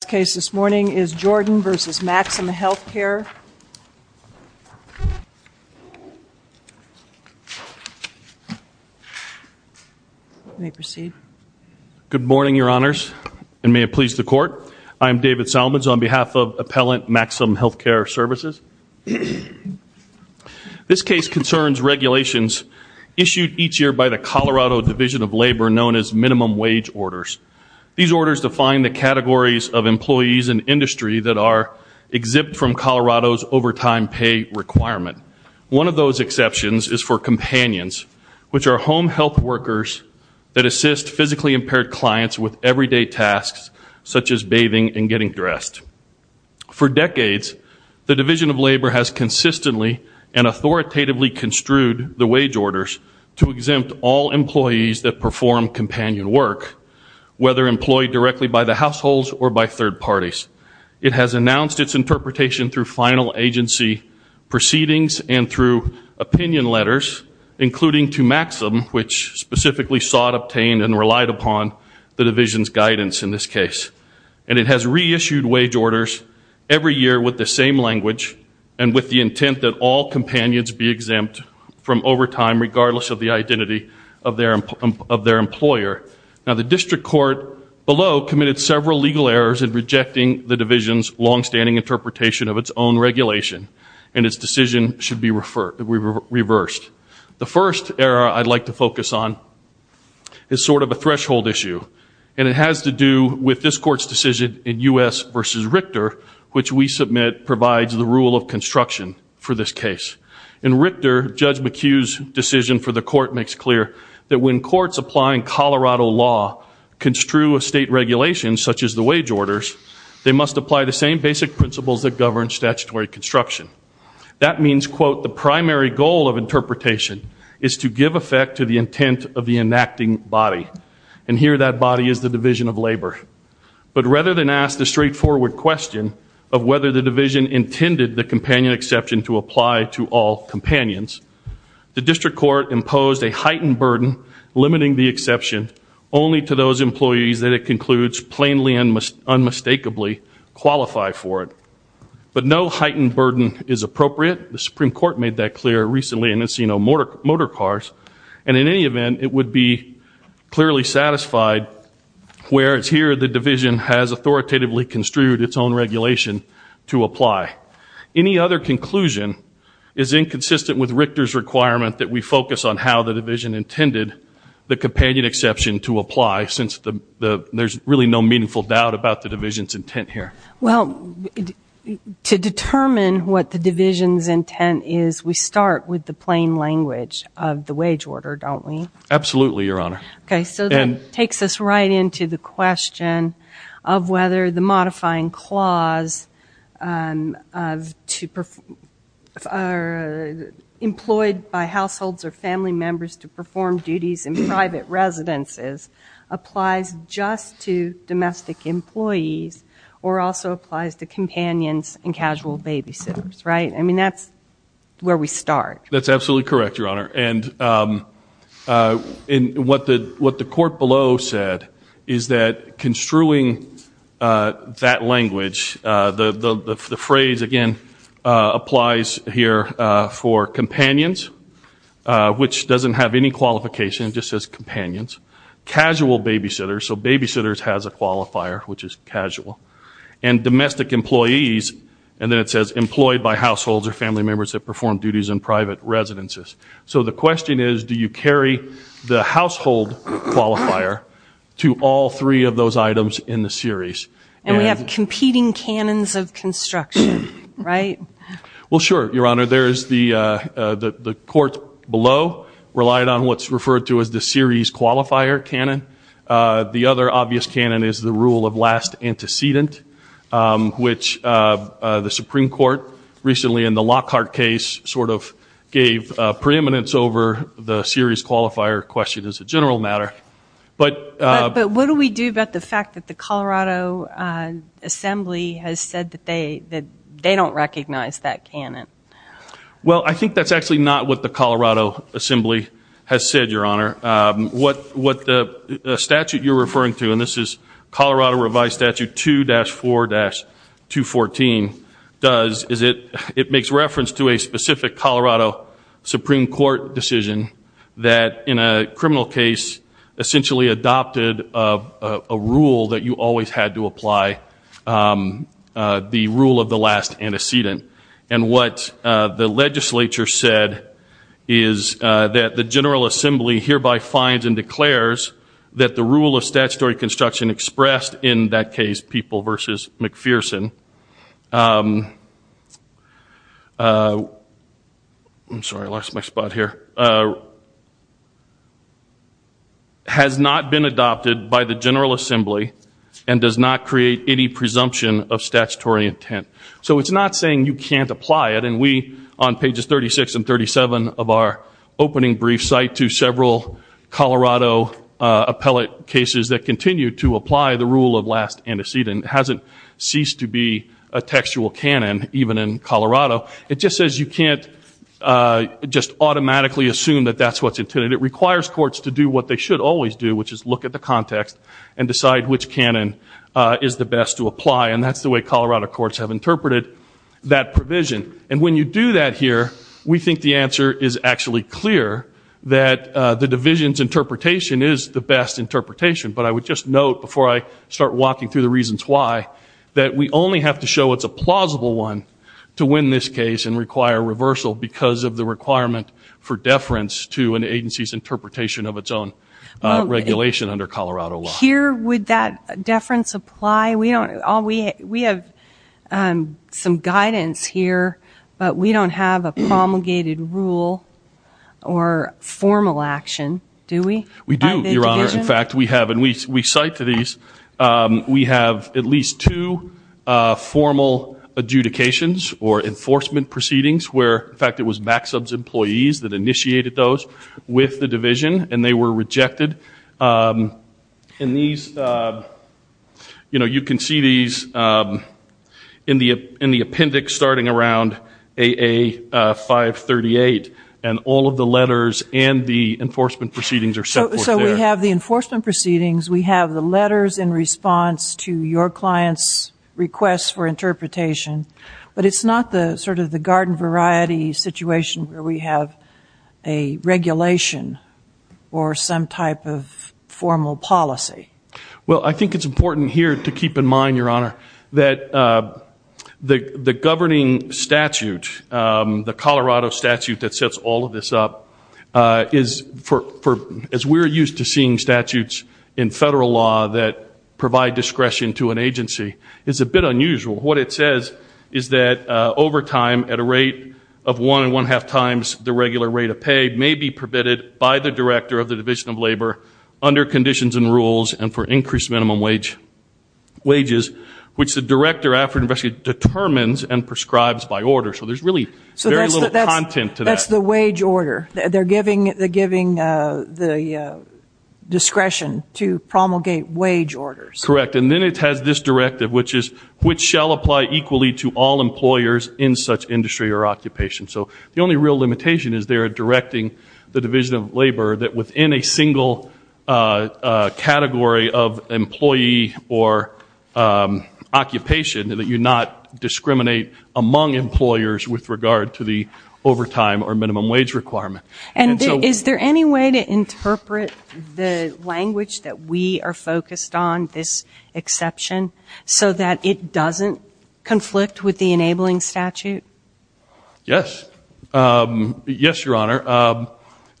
This case this morning is Jordan v. Maxim Healthcare. Good morning, Your Honors, and may it please the Court. I am David Salmons on behalf of Appellant Maxim Healthcare Services. This case concerns regulations issued each year by the Colorado Division of Labor known as Minimum Wage Orders. These orders define the categories of employees and industry that are exempt from Colorado's overtime pay requirement. One of those exceptions is for companions, which are home health workers that assist physically impaired clients with everyday tasks such as bathing and getting dressed. For decades, the Division of Labor has consistently and authoritatively construed the wage orders to exempt all employees that perform companion work. Whether employed directly by the households or by third parties. It has announced its interpretation through final agency proceedings and through opinion letters, including to Maxim, which specifically sought, obtained, and relied upon the Division's guidance in this case. And it has reissued wage orders every year with the same language and with the intent that all companions be exempt from overtime regardless of the identity of their employer. Now, the District Court below committed several legal errors in rejecting the Division's longstanding interpretation of its own regulation, and its decision should be reversed. The first error I'd like to focus on is sort of a threshold issue. And it has to do with this Court's decision in U.S. v. Richter, which we submit provides the rule of construction for this case. In Richter, Judge McHugh's decision for the Court makes clear that when courts applying Colorado's wage orders, and Colorado law, construe a state regulation such as the wage orders, they must apply the same basic principles that govern statutory construction. That means, quote, the primary goal of interpretation is to give effect to the intent of the enacting body. And here that body is the Division of Labor. But rather than ask the straightforward question of whether the Division intended the companion exception to apply to all companions, the District Court imposed a heightened burden limiting the exception only to those employees that it concludes plainly and unmistakably qualify for it. But no heightened burden is appropriate, the Supreme Court made that clear recently in Encino Motorcars, and in any event it would be clearly satisfied where it's here the Division has authoritatively construed its own regulation to apply. Any other conclusion is inconsistent with Richter's requirement that we focus on how the Division intended the companion exception to apply, since there's really no meaningful doubt about the Division's intent here. Well, to determine what the Division's intent is, we start with the plain language of the wage order, don't we? Absolutely, Your Honor. Okay, so that takes us right into the question of whether the modifying clause, employed by households or family members to perform duties in private residences, applies just to domestic employees or also applies to companions and casual babysitters, right? I mean, that's where we start. That's absolutely correct, Your Honor, and what the Court below said is that construing that language, the phrase again applies here for companions, which doesn't have any qualification, it just says companions, casual babysitters, so babysitters has a qualifier, which is casual, and domestic employees, and then it says employed by households or family members that perform duties in private residences, so the question is, do you carry the household qualifier to all three of those items in the series? And we have competing canons of construction, right? Well, sure, Your Honor, there's the Court below relied on what's referred to as the series qualifier canon. The other obvious canon is the rule of last antecedent, which the Supreme Court recently in the Lockhart case sort of gave it to the Supreme Court, gave preeminence over the series qualifier question as a general matter, but... But what do we do about the fact that the Colorado Assembly has said that they don't recognize that canon? Well, I think that's actually not what the Colorado Assembly has said, Your Honor. What the statute you're referring to, and this is Colorado Revised Statute 2-4-214, does is it makes reference to a specific Colorado canon, Supreme Court decision that, in a criminal case, essentially adopted a rule that you always had to apply, the rule of the last antecedent. And what the legislature said is that the General Assembly hereby finds and declares that the rule of statutory construction expressed in that case, People v. McPherson... I'm sorry, I lost my spot here. Has not been adopted by the General Assembly and does not create any presumption of statutory intent. So it's not saying you can't apply it, and we, on pages 36 and 37 of our opening brief cite to several Colorado appellate cases that continue to apply the rule of last antecedent. It hasn't ceased to be a textual canon, even in Colorado. It just says you can't just automatically assume that that's what's intended. It requires courts to do what they should always do, which is look at the context and decide which canon is the best to apply, and that's the way Colorado courts have interpreted that provision. And when you do that here, we think the answer is actually clear, that the division's interpretation is the best interpretation. But I would just note, before I start walking through the reasons why, that we only have to show it's a plausible one to win this case and require reversal because of the requirement for deference to an agency's interpretation of its own regulation under Colorado law. Here, would that deference apply? We have some guidance here, but we don't have a promulgated rule or formal action, do we? We do, Your Honor, in fact, we have, and we cite to these, we have at least two formal adjudications or enforcement proceedings where, in fact, it was MACSUB's employees that initiated those with the division, and they were rejected. And these, you know, you can see these in the appendix starting around AA 538, and all of the letters and the enforcement proceedings are separate. So we have the enforcement proceedings, we have the letters in response to your client's request for interpretation, but it's not the sort of the garden variety situation where we have a regulation or some type of formal policy. Well, I think it's important here to keep in mind, Your Honor, that the governing statute, the Colorado statute that sets all of this up, is for, as we're using it, it's not the same thing. We're used to seeing statutes in federal law that provide discretion to an agency. It's a bit unusual. What it says is that overtime at a rate of one and one-half times the regular rate of pay may be permitted by the director of the Division of Labor under conditions and rules and for increased minimum wages, which the director after an investigation determines and prescribes by order. So there's really very little content to that. It's a statute that provides discretion to promulgate wage orders. Correct. And then it has this directive, which is, which shall apply equally to all employers in such industry or occupation. So the only real limitation is they are directing the Division of Labor that within a single category of employee or occupation, that you not discriminate among employers with regard to the overtime or minimum wage requirement. And is there any way to interpret the language that we are focused on, this exception, so that it doesn't conflict with the enabling statute? Yes. Yes, Your Honor.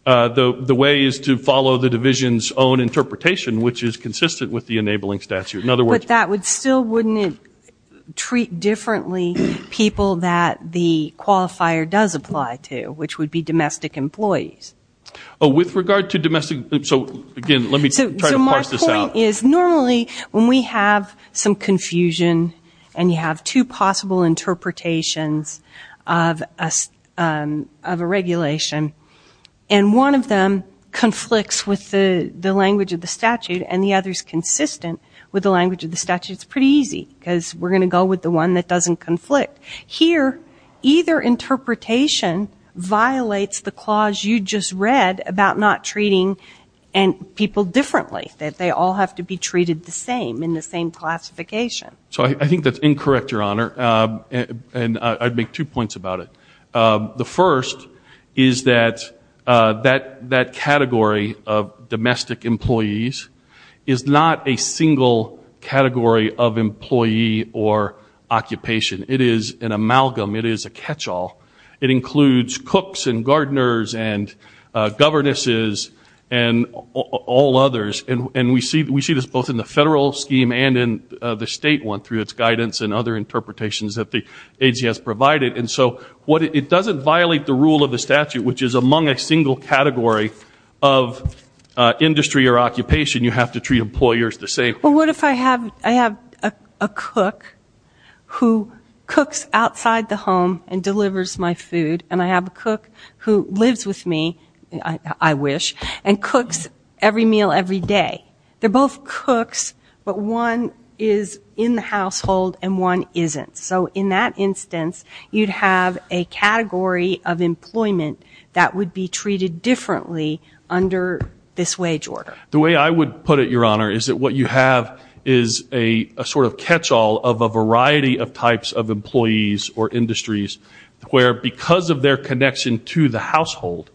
The way is to follow the Division's own interpretation, which is consistent with the enabling statute. But that still wouldn't treat differently people that the qualifier does apply to, which would be domestic employers. Oh, with regard to domestic, so again, let me try to parse this out. So my point is normally when we have some confusion and you have two possible interpretations of a regulation, and one of them conflicts with the language of the statute and the other is consistent with the language of the statute, it's pretty easy, because we're going to go with the one that doesn't conflict. Here, either interpretation violates the clause you just read about not treating people differently, that they all have to be treated the same in the same classification. So I think that's incorrect, Your Honor, and I'd make two points about it. The first is that that category of domestic employees is not a single category of employee or occupation. It is an amalgam, it is a catch-all. It includes cooks and gardeners and governesses and all others, and we see this both in the federal scheme and in the state one through its guidance and other interpretations that the AGS provided. And so it doesn't violate the rule of the statute, which is among a single category of industry or occupation, you have to treat employers the same. Well, what if I have a cook who cooks outside the home and delivers my food, and I have a cook who lives with me, I wish, and cooks every meal every day. They're both cooks, but one is in the household and one isn't. So in that instance, you'd have a category of employment that would be treated differently under this wage order. The way I would put it, Your Honor, is that what you have is a sort of catch-all of a variety of types of employees or industries where because of their connection to the household,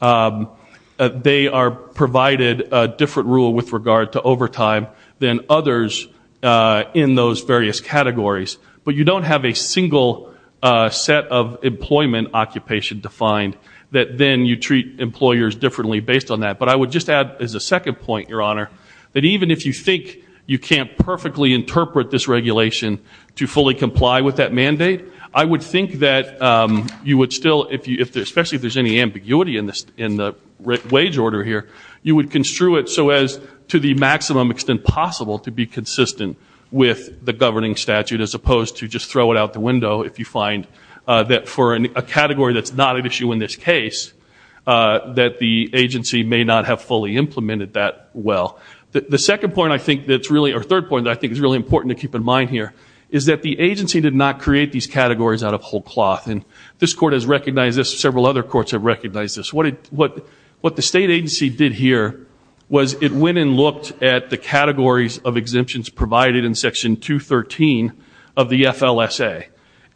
they are provided a different rule with regard to overtime than others in those various categories. But you don't have a single set of employment occupation defined that then you treat employers differently based on that. But I would just add as a second point, Your Honor, that even if you think you can't perfectly interpret this regulation to fully comply with that mandate, I would think that you would still, especially if there's any ambiguity in the wage order here, you would construe it so as to the maximum extent possible to be consistent with the governing statute as opposed to just throw it out the window if you find that for a category that's not at issue in this case, that the agency may not be able to comply. That the agency may not have fully implemented that well. The third point I think is really important to keep in mind here is that the agency did not create these categories out of whole cloth. And this Court has recognized this, several other courts have recognized this. What the state agency did here was it went and looked at the categories of exemptions provided in Section 213 of the FLSA.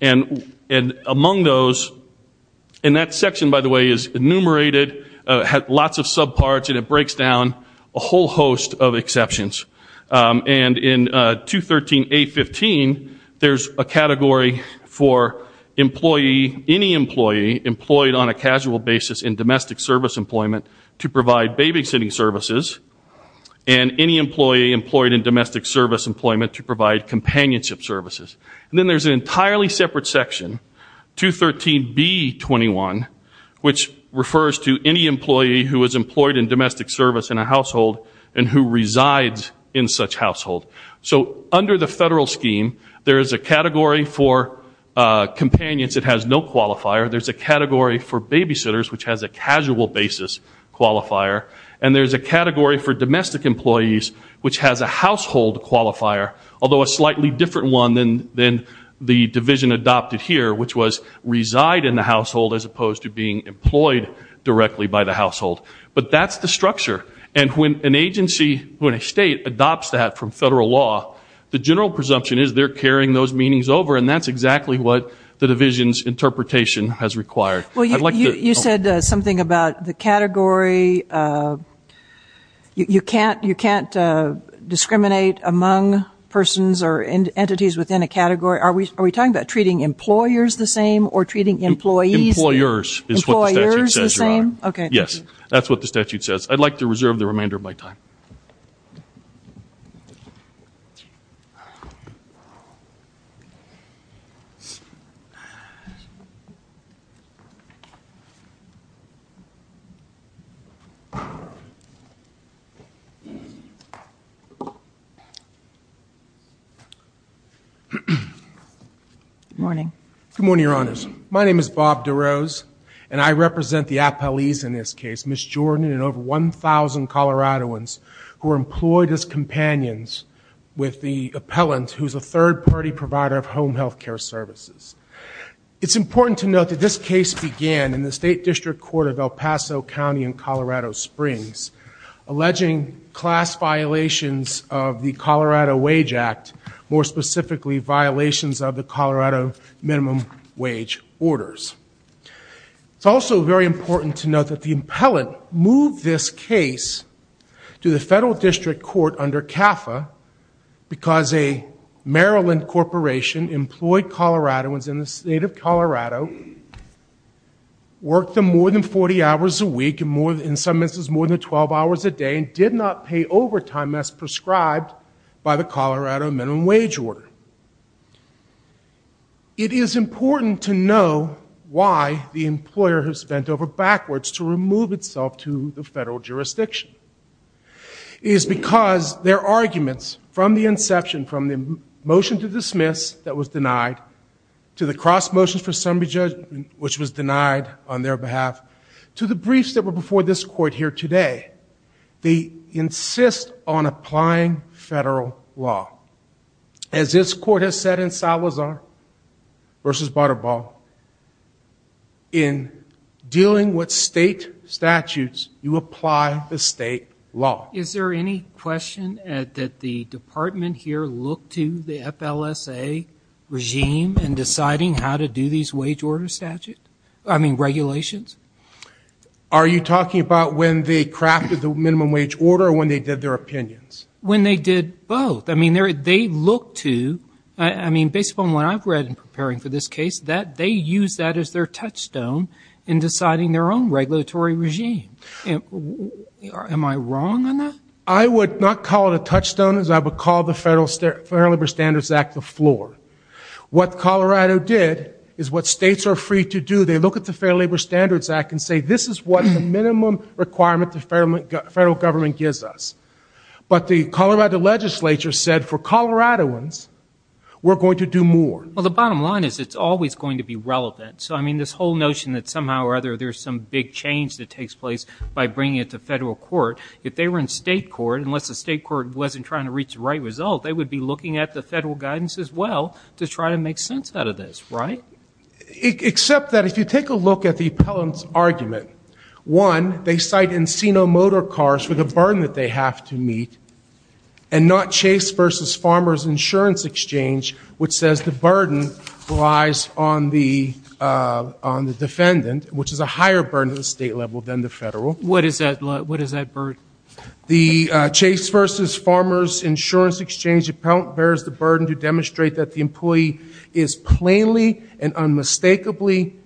And among those, and that section by the way is enumerated, lots of subparts and it breaks down a whole host of exceptions. And in 213A15 there's a category for employee, any employee employed on a casual basis in domestic service employment to provide babysitting services. And any employee employed in domestic service employment to provide companionship services. And then there's an entirely separate section, 213B21, which refers to any employee who is employed in domestic service in a household and who resides in such household. So under the federal scheme there is a category for companions that has no qualifier. There's a category for babysitters which has a casual basis qualifier. And there's a category for domestic employees which has a household qualifier. Although a slightly different one than the division adopted here which was reside in the household as opposed to being employed directly by the household. But that's the structure. And when an agency, when a state adopts that from federal law, the general presumption is they're carrying those meanings over and that's exactly what the division's interpretation has required. I'd like to... Are we talking about treating persons or entities within a category, are we talking about treating employers the same or treating employees... Employers is what the statute says, Your Honor. Employers the same? Okay, thank you. Yes, that's what the statute says. I'd like to reserve the remainder of my time. Good morning. Good morning, Your Honors. My name is Bob DeRose and I represent the appellees in this case, Ms. Jordan and over 1,000 Coloradans who are employed as companions with the appellant who's a third-party provider of home health care services. It's important to note that this case began in the State District Court of El Paso County in Colorado Springs, alleging class violations of the Colorado Wage Act. More specifically, violations of the Colorado Minimum Wage Orders. It's also very important to note that the appellant moved this case to the Federal District Court under CAFA because a Maryland corporation employed Coloradans in the state of Colorado, worked them more than 40 hours a week, in some instances more than 12 hours a day, and did not pay overtime as prescribed by the Colorado Minimum Wage Act. It is important to know why the employer has bent over backwards to remove itself to the federal jurisdiction. It is because their arguments from the inception, from the motion to dismiss that was denied, to the cross motions for summary judgment, which was denied on their behalf, to the briefs that were before this court here today, they insist on applying federal law. As this court has said in Salazar v. Butterball, in dealing with state statutes, you apply the state law. Is there any question that the department here looked to the FLSA regime in deciding how to do these wage order statutes, I mean regulations? Are you talking about when they crafted the minimum wage order or when they did their opinions? When they did both. I mean they looked to, I mean based upon what I've read in preparing for this case, that they used that as their touchstone in deciding their own regulatory regime. Am I wrong on that? I would not call it a touchstone as I would call the Fair Labor Standards Act the floor. What Colorado did is what states are free to do, they look at the Fair Labor Standards Act and say this is what the minimum requirement the federal government gives us. But the Colorado legislature said for Coloradoans, we're going to do more. Well the bottom line is it's always going to be relevant. So I mean this whole notion that somehow or other there's some big change that takes place by bringing it to federal court. If they were in state court, unless the state court wasn't trying to reach the right result, they would be looking at the federal guidance as well to try to make sense out of this, right? Except that if you take a look at the appellant's argument, one, they cite Encino Motor Cars for the burden that they have to bear. And two, they cite the burden that the employer has to meet. And not Chase v. Farmers Insurance Exchange which says the burden relies on the defendant, which is a higher burden at the state level than the federal. What is that burden? The Chase v. Farmers Insurance Exchange appellant bears the burden to demonstrate that the employee is plainly and unmistakably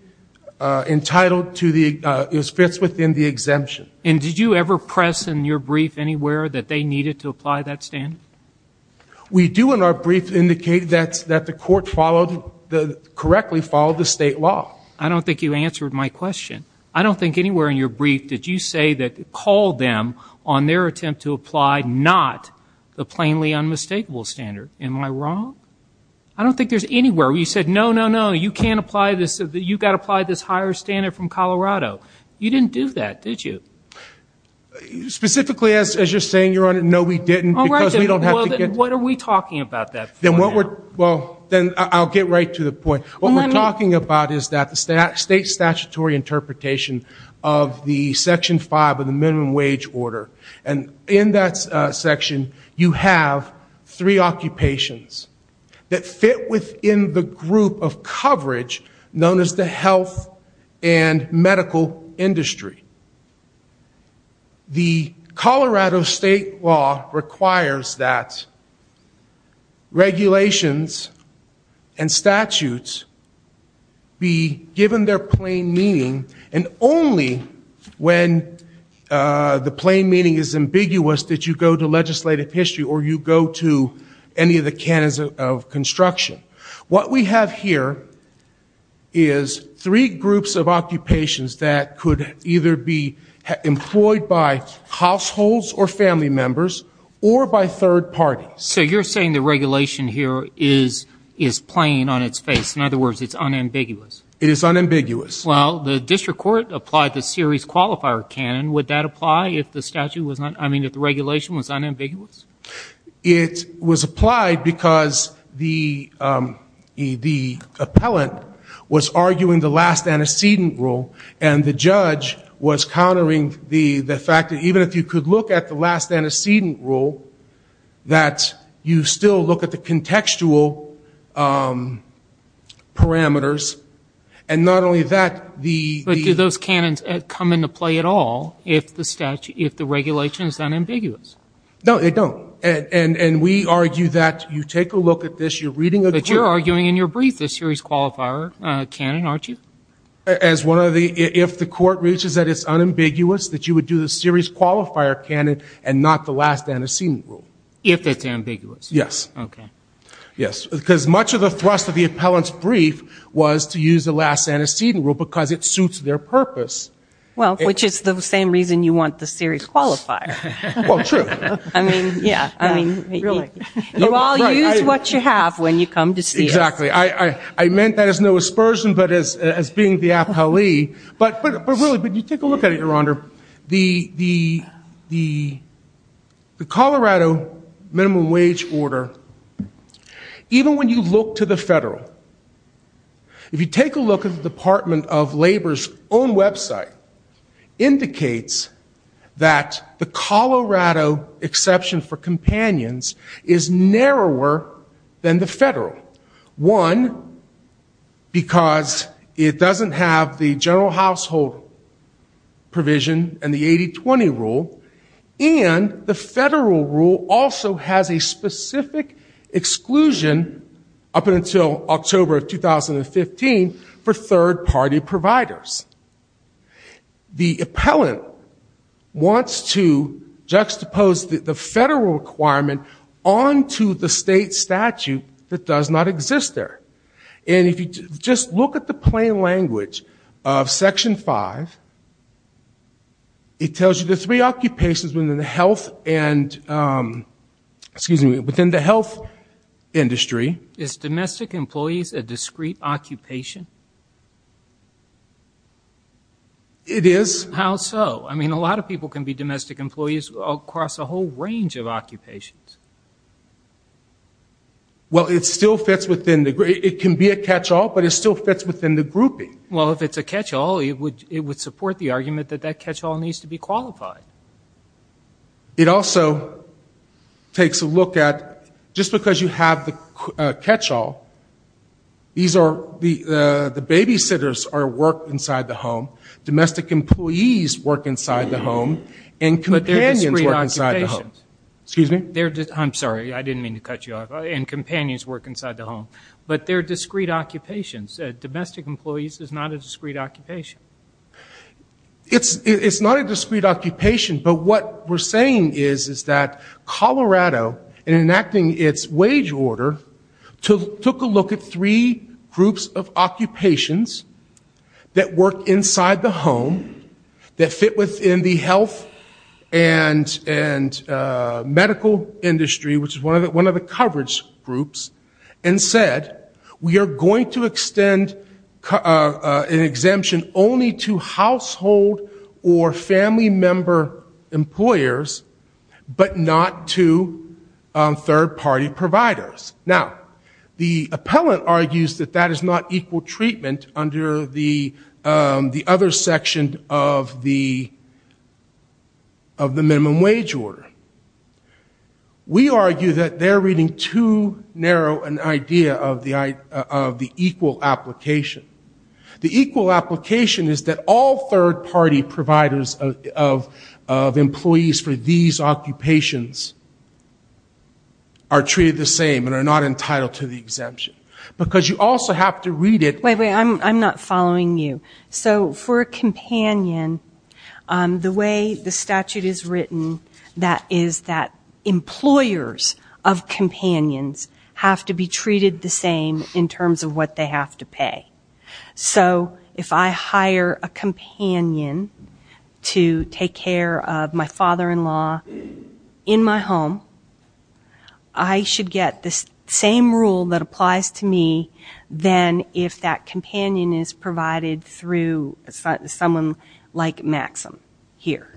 entitled to the, fits within the exemption. And did you ever press in your brief anywhere that they needed to apply that standard? We do in our brief indicate that the court followed, correctly followed the state law. I don't think you answered my question. I don't think anywhere in your brief did you say that, call them on their attempt to apply not the plainly unmistakable standard. Am I wrong? I don't think there's anywhere where you said, no, no, no, you can't apply this, you've got to apply this higher standard from Colorado. You didn't do that, did you? Specifically as you're saying, Your Honor, no we didn't because we don't have to get... All right, then what are we talking about that for now? Well, then I'll get right to the point. What we're talking about is that the state statutory interpretation of the Section 5 of the minimum wage order. And in that section, you have three occupations that fit within the group of coverage known as the health and medical industry. The Colorado state law requires that regulations and statutes be given their plain meaning and only when the plain meaning is met, the plain meaning is ambiguous that you go to legislative history or you go to any of the canons of construction. What we have here is three groups of occupations that could either be employed by households or family members or by third parties. So you're saying the regulation here is plain on its face, in other words, it's unambiguous? It is unambiguous. I mean if the regulation was unambiguous? It was applied because the appellant was arguing the last antecedent rule and the judge was countering the fact that even if you could look at the last antecedent rule, that you still look at the contextual parameters and not only that, the... If the regulation is unambiguous? No, it don't. And we argue that you take a look at this, you're reading a... But you're arguing in your brief the series qualifier canon, aren't you? As one of the... If the court reaches that it's unambiguous, that you would do the series qualifier canon and not the last antecedent rule. If it's ambiguous? Yes, because much of the thrust of the appellant's brief was to use the last antecedent rule because it suits their purpose. Well, which is the same reason you want the series qualifier. You all use what you have when you come to see us. Exactly. I meant that as no aspersion but as being the appellee. But really, when you take a look at it, Your Honor, the Colorado minimum wage order, even when you look to the federal, if you take a look at the Department of Labor's own website, indicates that the Colorado exception for companions is narrower than the federal. One, because it doesn't have the general household provision and the 80-20 rule. And the federal rule also has a specific exclusion up until October of 2015 for third-party providers. The appellant wants to juxtapose the federal requirement onto the state statute that doesn't exist. And if you just look at the plain language of Section 5, it tells you the three occupations within the health industry. Is domestic employees a discrete occupation? It is. How so? I mean, a lot of people can be domestic employees across a whole range of occupations. Well, it can be a catch-all, but it still fits within the grouping. Well, if it's a catch-all, it would support the argument that that catch-all needs to be qualified. It also takes a look at, just because you have the catch-all, the babysitters are work inside the home. Domestic employees work inside the home, and companions work inside the home. But they're discrete occupations. Domestic employees is not a discrete occupation. It's not a discrete occupation, but what we're saying is that Colorado, in enacting its wage order, took a look at three groups of occupations that work inside the home. That fit within the health and medical industry, which is one of the coverage groups. And said, we are going to extend an exemption only to household or family member employers, but not to third-party providers. Now, the appellant argues that that is not equal treatment under the other groups. Under the other section of the minimum wage order. We argue that they're reading too narrow an idea of the equal application. The equal application is that all third-party providers of employees for these occupations are treated the same and are not entitled to the exemption. Because you also have to read it. Wait, wait, I'm not following you. So, for a companion, the way the statute is written, that is that employers of companions have to be treated the same in terms of what they have to pay. So, if I hire a companion to take care of my father-in-law in my home, I should get the same rule that applies to all three occupations. So, if I hire a companion to take care of my father-in-law in my home, I should get the same rule that applies to me than if that companion is provided through someone like Maxim here.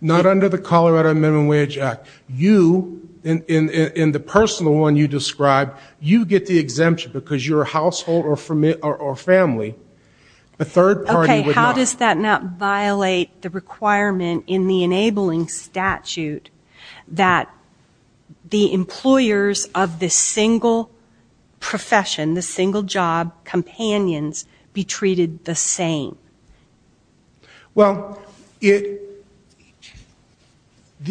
Not under the Colorado Minimum Wage Act. You, in the personal one you described, you get the exemption because you're a household or family. A third-party would not. Okay, how does that not violate the requirement in the enabling statute that the employers of the single profession, the single job companions, be treated the same? Well, the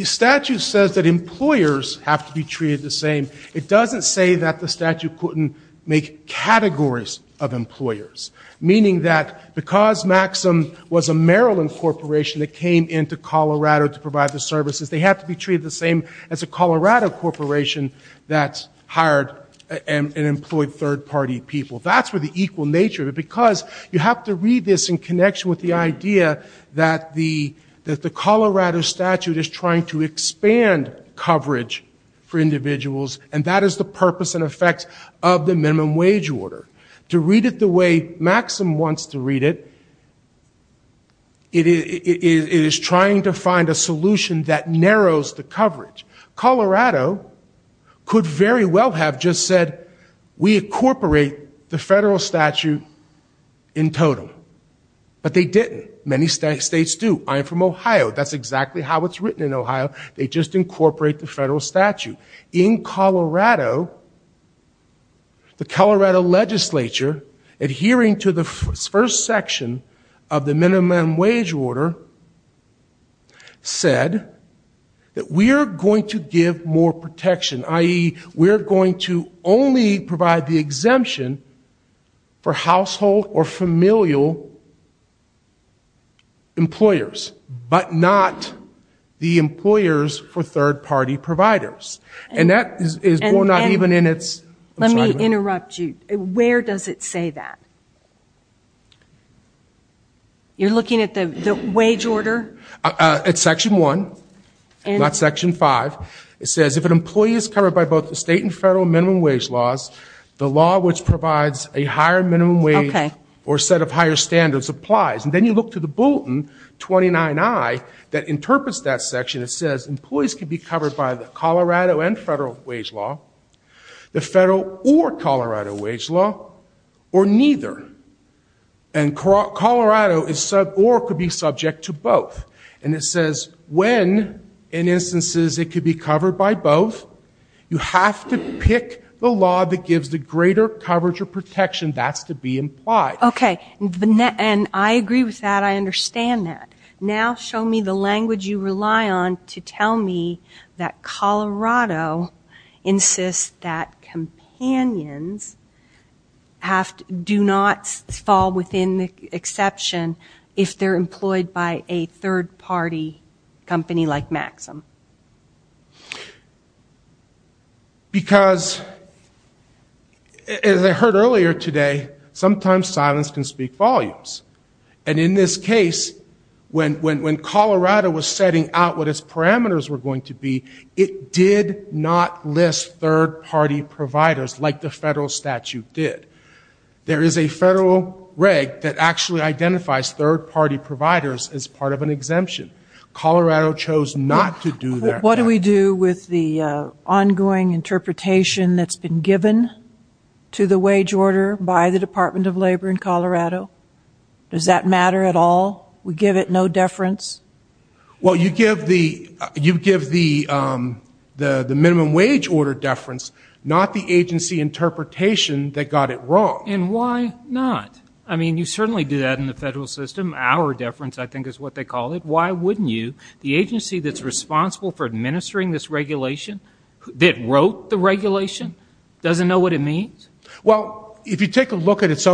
statute says that employers have to be treated the same. It doesn't say that the statute couldn't make categories of employers. Meaning that because Maxim was a Maryland corporation that came into Colorado to provide the services, they have to be treated the same as a Colorado corporation that hired and employed third-party employees. That's where the equal nature of it, because you have to read this in connection with the idea that the Colorado statute is trying to expand coverage for individuals, and that is the purpose and effect of the minimum wage order. To read it the way Maxim wants to read it, it is trying to find a solution that narrows the coverage. Colorado could very well have just said, we incorporate the federal statute in total, but they didn't. Many states do. I am from Ohio, that's exactly how it's written in Ohio, they just incorporate the federal statute. In Colorado, the Colorado legislature, adhering to the first section of the minimum wage order, said that we are going to give more protection, i.e., we are going to only provide the exemption for household or familial employers, but not the employers for third-party providers. And that is more not even in its assignment. Where does it say that? You are looking at the wage order? It's section 1, not section 5. It says, if an employee is covered by both the state and federal minimum wage laws, the law which provides a higher minimum wage or a set of higher standards applies. And then you look to the bulletin, 29I, that interprets that section. It says, employees can be covered by the Colorado and federal wage law, the federal or Colorado wage law, or neither. And Colorado or could be subject to both. And it says, when, in instances, it could be covered by both, you have to pick the law that gives the greater coverage or protection. That's to be implied. Okay. And I agree with that. I understand that. Now show me the language you rely on to tell me that Colorado insists that companions do not fall within the exception if they are employed by a third-party company like Maxim. Because, as I heard earlier today, sometimes silence can speak volumes. And in this case, when Colorado was setting out what its parameters were going to be, it did not list third-party providers like the federal statute did. There is a federal reg that actually identifies third-party providers as part of an exemption. Colorado chose not to do that. What do we do with the ongoing interpretation that's been given to the wage order by the Department of Labor in Colorado? Does that matter at all? We give it no deference? Well, you give the minimum wage order deference, not the agency interpretation that got it wrong. And why not? I mean, you certainly do that in the federal system. Our deference, I think, is what they call it. Why wouldn't you? The agency that's responsible for administering this regulation, that wrote the regulation, doesn't know what it means? It's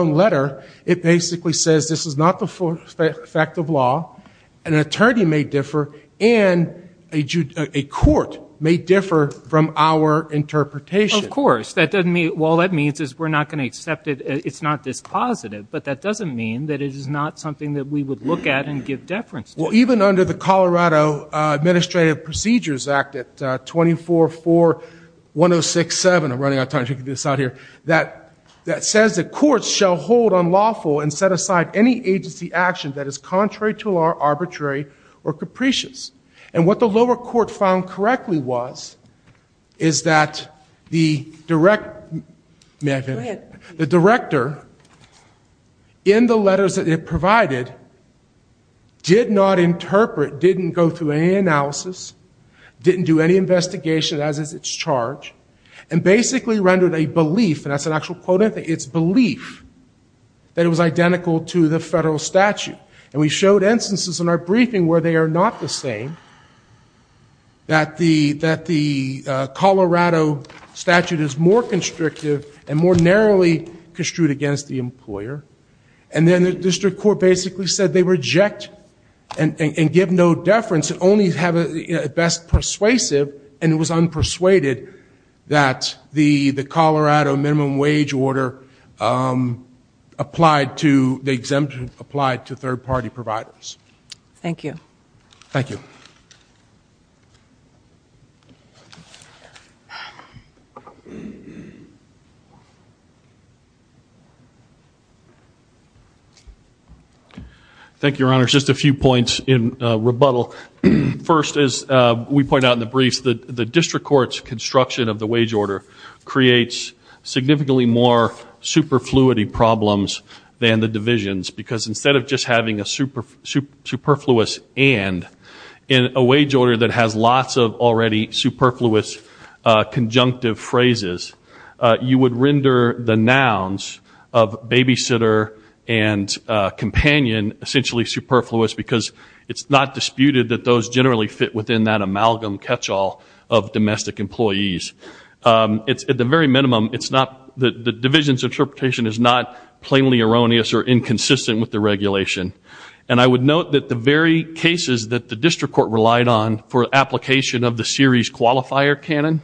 not this positive, but that doesn't mean that it is not something that we would look at and give deference to. Well, even under the Colorado Administrative Procedures Act at 24-4-1067, I'm running out of time, I should get this out here, that says that courts shall hold unlawful and set aside any agency action that is contrary to law, arbitrary, or capricious. And what the lower court found correctly was is that the direct, may I finish? The director, in the letters that it provided, did not interpret, didn't go through any analysis, didn't do any investigation, as is its charge, and basically rendered a belief, and that's an actual quote, I think, it's belief, that it was identical to the federal statute. And we showed instances in our briefing where they are not the same, that the Colorado statute is more constrictive and more narrow, narrowly constrict against the employer, and then the district court basically said they reject and give no deference, and only have it best persuasive, and it was unpersuaded that the Colorado minimum wage order applied to, the exemption applied to third party providers. Thank you. Thank you, Your Honor. Just a few points in rebuttal. First, as we point out in the briefs, the district court's construction of the wage order creates significantly more superfluity problems than the divisions, because instead of just having a superfluous and, in a wage order that has lots of already superfluous conjunctive phrases, you would render the nouns of babysitter and companion essentially superfluous, because it's not disputed that those generally fit within that amalgam catchall of domestic employees. At the very minimum, the division's interpretation is not plainly erroneous or inconsistent with the regulation. And I would note that the very cases that the district court relied on for application of the series qualifier canon,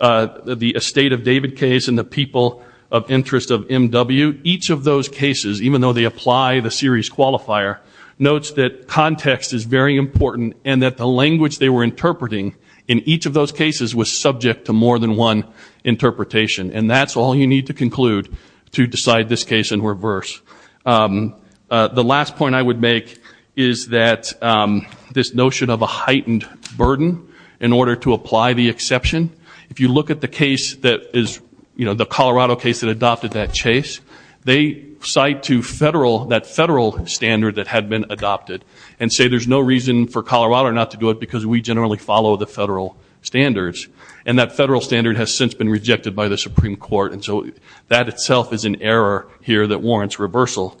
the estate of people of interest of M.W., each of those cases, even though they apply the series qualifier, notes that context is very important, and that the language they were interpreting in each of those cases was subject to more than one interpretation. And that's all you need to conclude to decide this case in reverse. The last point I would make is that this notion of a heightened burden in order to apply the exception, if you look at the case that is, you know, the Colorado case that adopted that chase, they cite to federal, that federal standard that had been adopted, and say there's no reason for Colorado not to do it because we generally follow the federal standards. And that federal standard has since been rejected by the Supreme Court, and so that itself is an error here that warrants reversal. Thank you.